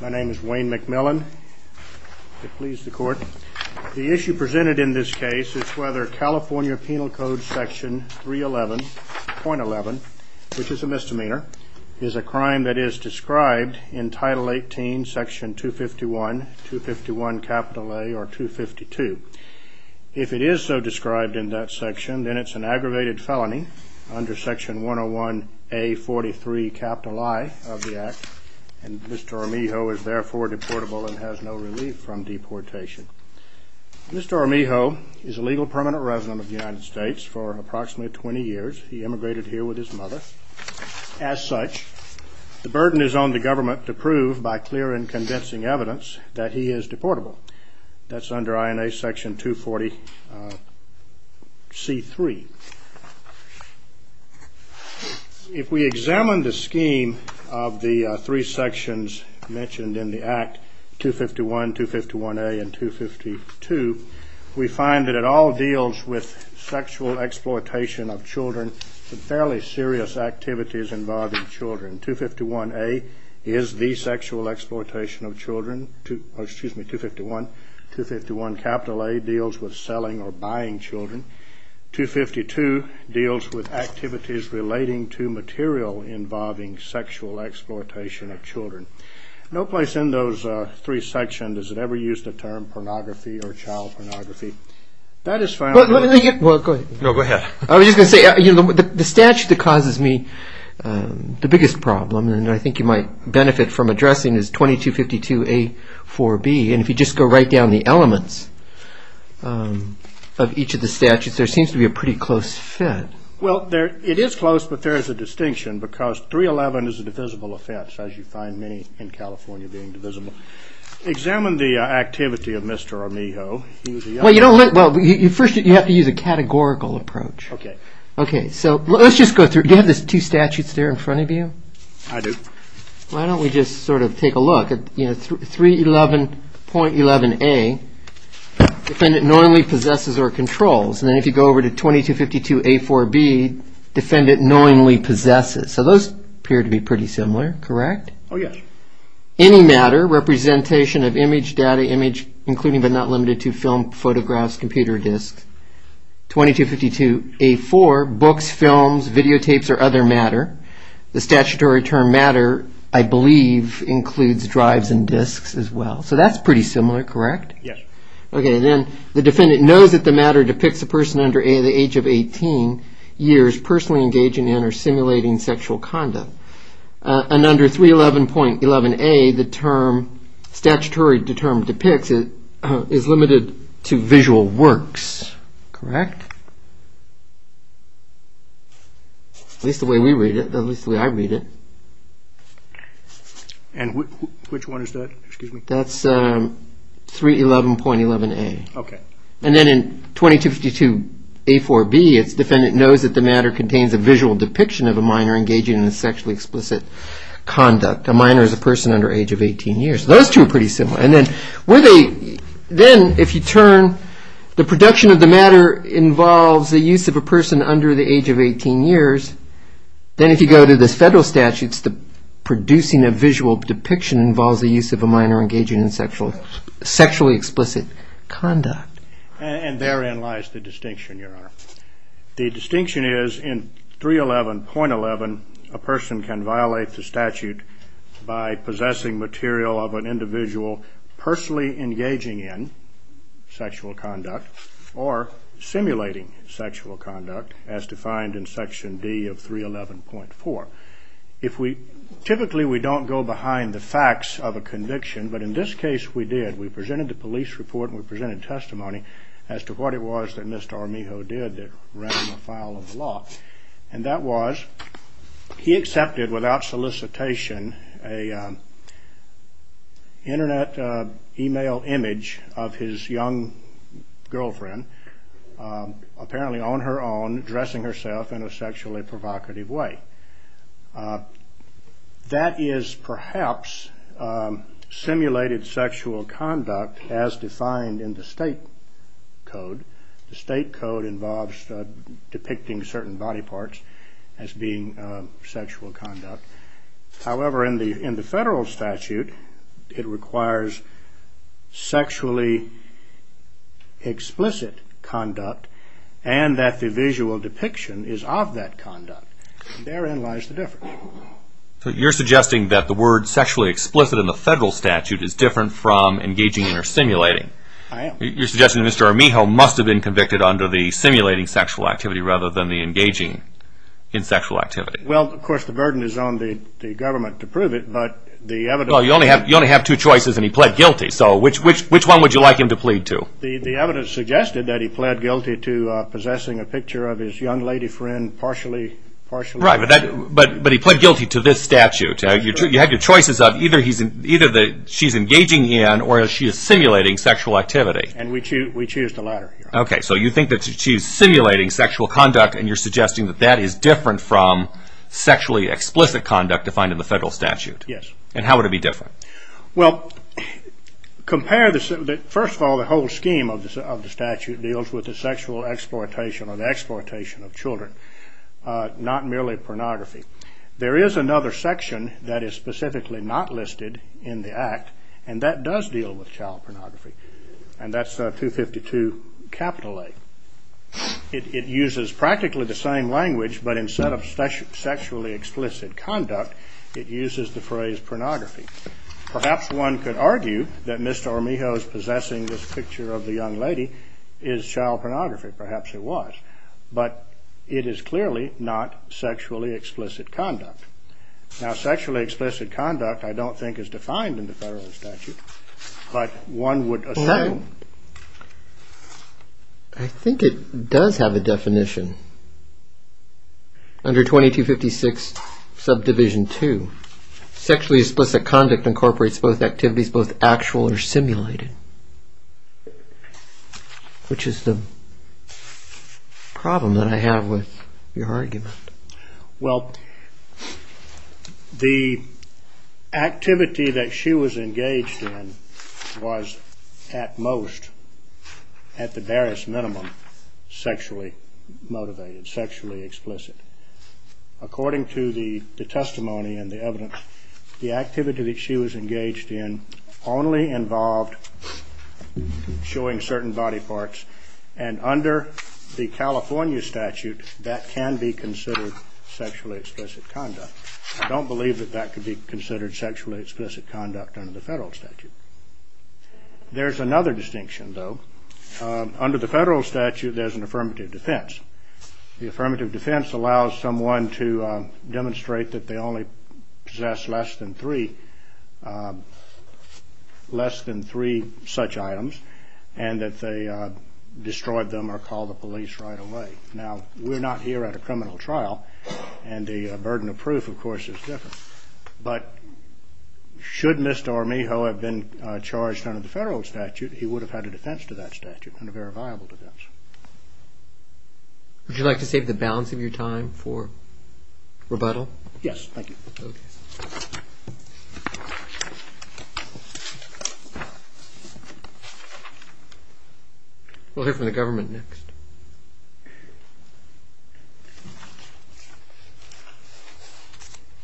My name is Wayne McMillan. The issue presented in this case is whether California Penal Code Section 311.11, which is a misdemeanor, is a crime that is described in Title 18, Section 251, 251A, or 252. If it is so described in that section, then it's an aggravated felony under Section 101A43, capital I of the Act, and Mr. Armijo is therefore deportable and has no relief from deportation. Mr. Armijo is a legal permanent resident of the United States for approximately 20 years. He immigrated here with his mother. As such, the burden is on the government to prove by clear and convincing evidence that he is deportable. That's under INA Section 240C3. If we examine the scheme of the three sections mentioned in the Act, 251, 251A, and 252, we find that it all deals with sexual exploitation of children and fairly serious activities involving children. 251A deals with selling or buying children. 252 deals with activities relating to material involving sexual exploitation of children. No place in those three sections does it ever use the term pornography or child pornography. I was just going to say, the statute that causes me the biggest problem, and I think you might benefit from addressing, is 2252A4B. And if you just go right down the elements of each of the statutes, there seems to be a pretty close fit. Well, it is close, but there is a distinction because 311 is a divisible offense, as you find many in California being divisible. Examine the activity of Mr. Amiho. Well, first you have to use a categorical approach. Okay. Okay, so let's just go through. Do you have the two statutes there in front of you? I do. Why don't we just sort of take a look. 311.11A, defendant knowingly possesses or controls. And then if you go over to 2252A4B, defendant knowingly possesses. So those appear to be pretty similar, correct? Oh, yes. Okay. Any matter, representation of image, data, image, including but not limited to film, photographs, computer disks. 2252A4, books, films, videotapes, or other matter. The statutory term matter, I believe, includes drives and disks as well. So that's pretty similar, correct? Yes. Okay, then the defendant knows that the matter depicts a person under the age of 18, years, personally engaging in or simulating sexual conduct. And under 311.11A, the term, statutory term depicts is limited to visual works, correct? At least the way we read it, at least the way I read it. And which one is that, excuse me? That's 311.11A. Okay. And then in 2252A4B, its defendant knows that the matter contains a visual depiction of a minor engaging in sexually explicit conduct. A minor is a person under the age of 18 years. Those two are pretty similar. And then if you turn, the production of the matter involves the use of a person under the age of 18 years. Then if you go to the federal statutes, the producing a visual depiction involves the use of a minor engaging in sexually explicit conduct. And therein lies the distinction, Your Honor. The distinction is in 311.11, a person can violate the statute by possessing material of an individual personally engaging in sexual conduct or simulating sexual conduct as defined in Section D of 311.4. If we, typically we don't go behind the facts of a conviction, but in this case we did. We presented the police report and we presented testimony as to what it was that Mr. Armijo did that ran the file of the law. And that was, he accepted without solicitation an internet email image of his young girlfriend, apparently on her own, dressing herself in a sexually provocative way. That is perhaps simulated sexual conduct as defined in the state code. The state code involves depicting certain body parts as being sexual conduct. However, in the federal statute, it requires sexually explicit conduct and that the visual depiction is of that conduct. Therein lies the difference. So you're suggesting that the word sexually explicit in the federal statute is different from engaging in or simulating. I am. You're suggesting that Mr. Armijo must have been convicted under the simulating sexual activity rather than the engaging in sexual activity. Well, of course, the burden is on the government to prove it, but the evidence... Well, you only have two choices and he pled guilty, so which one would you like him to plead to? The evidence suggested that he pled guilty to possessing a picture of his young lady friend partially... Right, but he pled guilty to this statute. You have your choices of either she's engaging in or she's simulating sexual activity. And we choose the latter. Okay, so you think that she's simulating sexual conduct and you're suggesting that that is different from sexually explicit conduct defined in the federal statute. Yes. And how would it be different? Well, first of all, the whole scheme of the statute deals with the sexual exploitation or the exploitation of children, not merely pornography. There is another section that is specifically not listed in the Act, and that does deal with child pornography, and that's 252A. It uses practically the same language, but instead of sexually explicit conduct, it uses the phrase pornography. Perhaps one could argue that Mr. Armijo's possessing this picture of the young lady is child pornography. Perhaps it was, but it is clearly not sexually explicit conduct. Now, sexually explicit conduct I don't think is defined in the federal statute, but one would assume... I think it does have a definition. Under 2256 subdivision 2, sexually explicit conduct incorporates both activities, both actual or simulated, which is the problem that I have with your argument. Well, the activity that she was engaged in was at most, at the barest minimum, sexually motivated, sexually explicit. According to the testimony and the evidence, the activity that she was engaged in only involved showing certain body parts, and under the California statute, that can be considered sexually explicit conduct. I don't believe that that could be considered sexually explicit conduct under the federal statute. There's another distinction, though. Under the federal statute, there's an affirmative defense. The affirmative defense allows someone to demonstrate that they only possess less than three such items, and that they destroyed them or called the police right away. Now, we're not here at a criminal trial, and the burden of proof, of course, is different. But should Mr. Armijo have been charged under the federal statute, he would have had a defense to that statute, and a very viable defense. Would you like to save the balance of your time for rebuttal? Yes, thank you. Okay. We'll hear from the government next.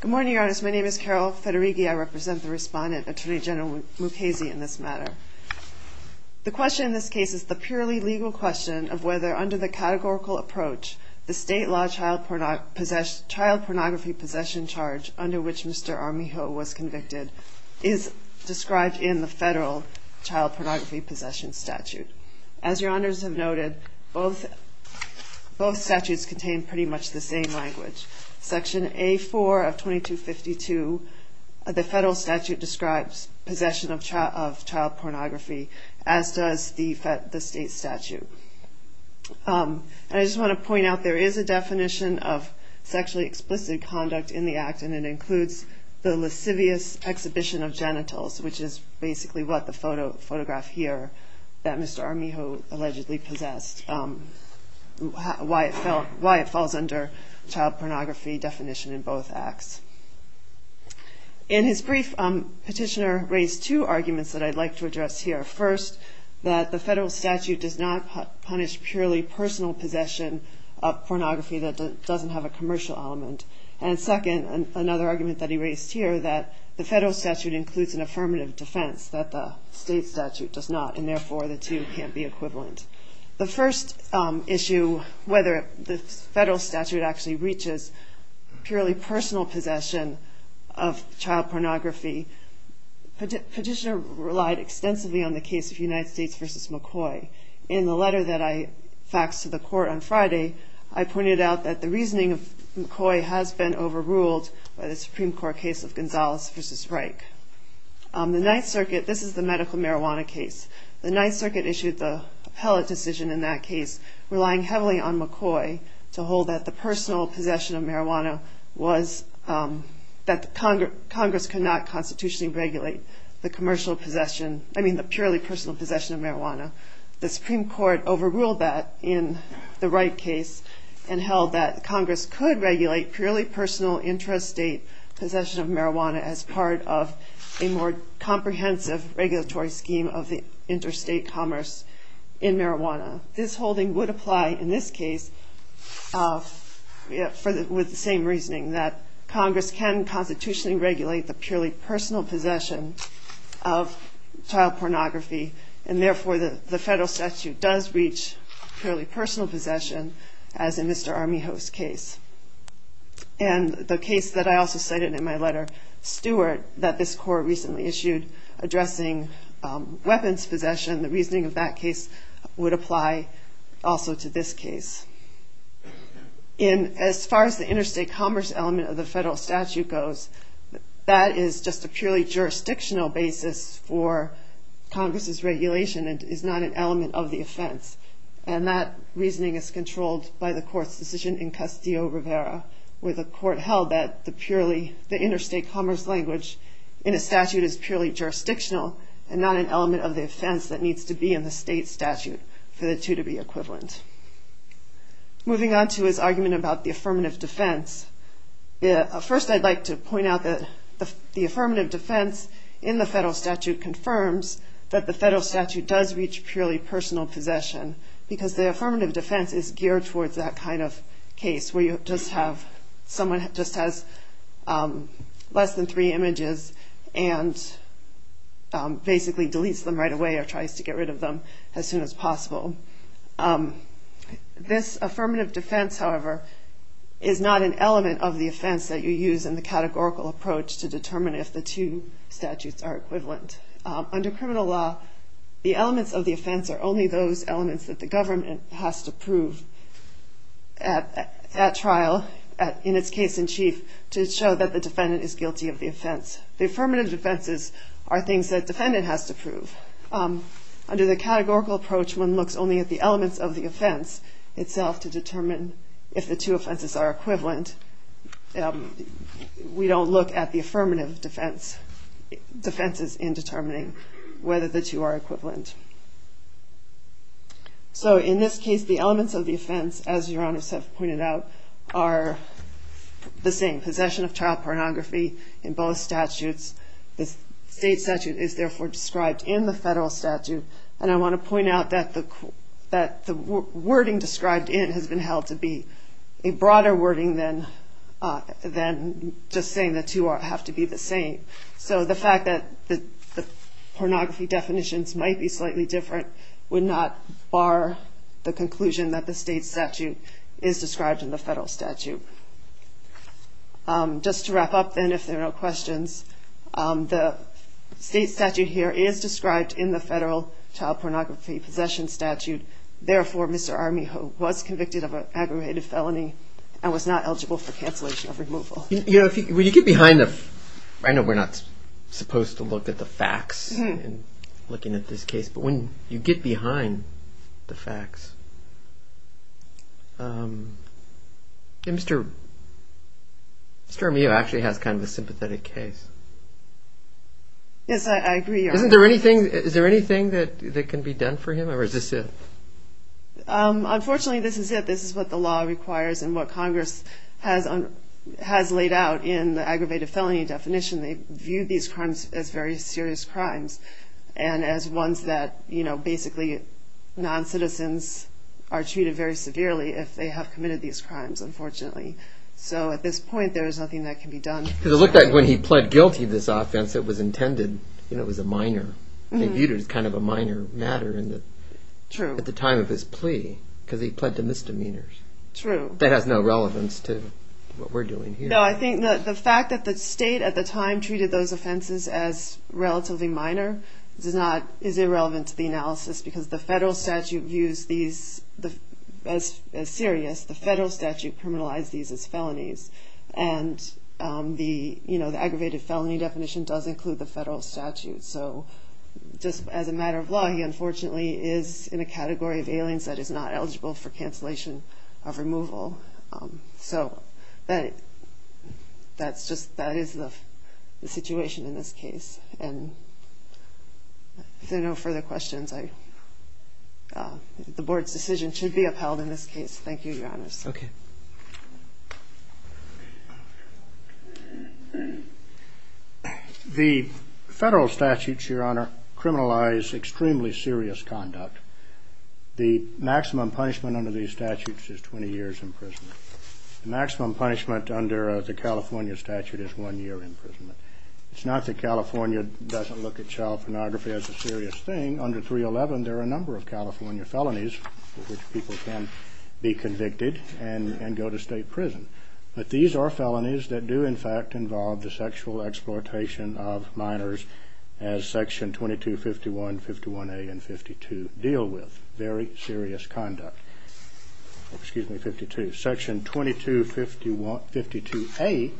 Good morning, Your Honors. My name is Carol Federighi. I represent the Respondent, Attorney General Mukasey, in this matter. The question in this case is the purely legal question of whether, under the categorical approach, the state law child pornography possession charge under which Mr. Armijo was convicted is described in the federal child pornography possession statute. As Your Honors have noted, both statutes contain pretty much the same language. Section A-4 of 2252 of the federal statute describes possession of child pornography, as does the state statute. I just want to point out there is a definition of sexually explicit conduct in the act, and it includes the lascivious exhibition of genitals, which is basically what the photograph here that Mr. Armijo allegedly possessed, why it falls under child pornography definition in both acts. In his brief, Petitioner raised two arguments that I'd like to address here. First, that the federal statute does not punish purely personal possession of pornography that doesn't have a commercial element. And second, another argument that he raised here, that the federal statute includes an affirmative defense that the state statute does not, and therefore the two can't be equivalent. The first issue, whether the federal statute actually reaches purely personal possession of child pornography, Petitioner relied extensively on the case of United States v. McCoy. In the letter that I faxed to the court on Friday, I pointed out that the reasoning of McCoy has been overruled by the Supreme Court case of Gonzalez v. Reich. The Ninth Circuit, this is the medical marijuana case, the Ninth Circuit issued the appellate decision in that case, relying heavily on McCoy to hold that the personal possession of marijuana was, that Congress could not constitutionally regulate the commercial possession, I mean the purely personal possession of marijuana. The Supreme Court overruled that in the Reich case, and held that Congress could regulate purely personal intrastate possession of marijuana as part of a more comprehensive regulatory scheme of the interstate commerce in marijuana. This holding would apply in this case, with the same reasoning, that Congress can constitutionally regulate the purely personal possession of child pornography, and therefore the federal statute does reach purely personal possession, as in Mr. Armijo's case. And the case that I also cited in my letter, Stewart, that this court recently issued, addressing weapons possession, the reasoning of that case would apply also to this case. As far as the interstate commerce element of the federal statute goes, that is just a purely jurisdictional basis for Congress's regulation, and is not an element of the offense. And that reasoning is controlled by the court's decision in Castillo-Rivera, where the court held that the interstate commerce language in a statute is purely jurisdictional, and not an element of the offense that needs to be in the state statute for the two to be equivalent. Moving on to his argument about the affirmative defense, first I'd like to point out that the affirmative defense in the federal statute confirms that the federal statute does reach purely personal possession, because the affirmative defense is geared towards that kind of case, where someone just has less than three images, and basically deletes them right away, or tries to get rid of them as soon as possible. This affirmative defense, however, is not an element of the offense that you use in the categorical approach to determine if the two statutes are equivalent. Under criminal law, the elements of the offense are only those elements that the government has to prove at trial, in its case in chief, to show that the defendant is guilty of the offense. The affirmative defenses are things that the defendant has to prove. Under the categorical approach, one looks only at the elements of the offense itself to determine if the two offenses are equivalent. We don't look at the affirmative defenses in determining whether the two are equivalent. So in this case, the elements of the offense, as Your Honor pointed out, are the same. Possession of child pornography in both statutes. The state statute is therefore described in the federal statute, and I want to point out that the wording described in has been held to be a broader wording than just saying the two have to be the same. So the fact that the pornography definitions might be slightly different would not bar the conclusion that the state statute is described in the federal statute. Just to wrap up, then, if there are no questions, the state statute here is described in the federal child pornography possession statute. Therefore, Mr. Armijo was convicted of an aggravated felony and was not eligible for cancellation of removal. You know, when you get behind the... I know we're not supposed to look at the facts in looking at this case, but when you get behind the facts... Mr. Armijo actually has kind of a sympathetic case. Yes, I agree, Your Honor. Is there anything that can be done for him, or is this it? Unfortunately, this is it. This is what the law requires and what Congress has laid out in the aggravated felony definition. They view these crimes as very serious crimes and as ones that basically non-citizens are treated very severely if they have committed these crimes, unfortunately. So at this point, there is nothing that can be done. Because it looked like when he pled guilty to this offense, it was intended, you know, it was a minor. They viewed it as kind of a minor matter at the time of his plea because he pled to misdemeanors. True. That has no relevance to what we're doing here. No, I think the fact that the state at the time treated those offenses as relatively minor is irrelevant to the analysis because the federal statute views these as serious. The federal statute criminalized these as felonies. And the aggravated felony definition does include the federal statute. So just as a matter of law, he unfortunately is in a category of aliens that is not eligible for cancellation of removal. So that is the situation in this case. If there are no further questions, the Board's decision should be upheld in this case. Thank you, Your Honor. Okay. The federal statutes, Your Honor, criminalize extremely serious conduct. The maximum punishment under these statutes is 20 years imprisonment. The maximum punishment under the California statute is one year imprisonment. It's not that California doesn't look at child pornography as a serious thing. Under 311, there are a number of California felonies for which people can be convicted and go to state prison. But these are felonies that do, in fact, involve the sexual exploitation of minors as Section 2251, 51A, and 52 deal with. Very serious conduct. Excuse me, 52. Section 2252A,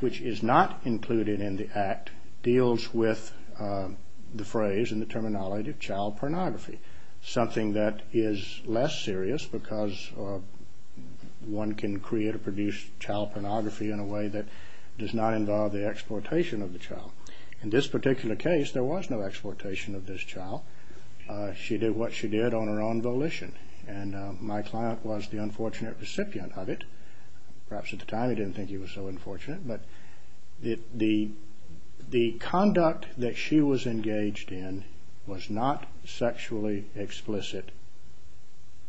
which is not included in the Act, deals with the phrase and the terminology of child pornography, something that is less serious because one can create or produce child pornography in a way that does not involve the exploitation of the child. In this particular case, there was no exploitation of this child. She did what she did on her own volition, and my client was the unfortunate recipient of it. Perhaps at the time he didn't think he was so unfortunate, but the conduct that she was engaged in was not sexually explicit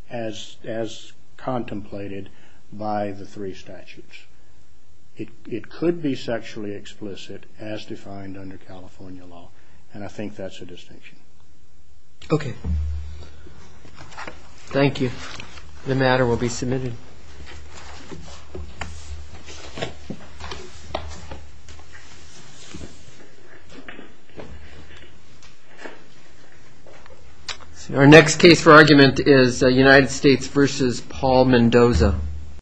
as contemplated by the three statutes. It could be sexually explicit as defined under California law, and I think that's a distinction. Okay. Thank you. The matter will be submitted. Thank you. Our next case for argument is United States v. Paul Mendoza.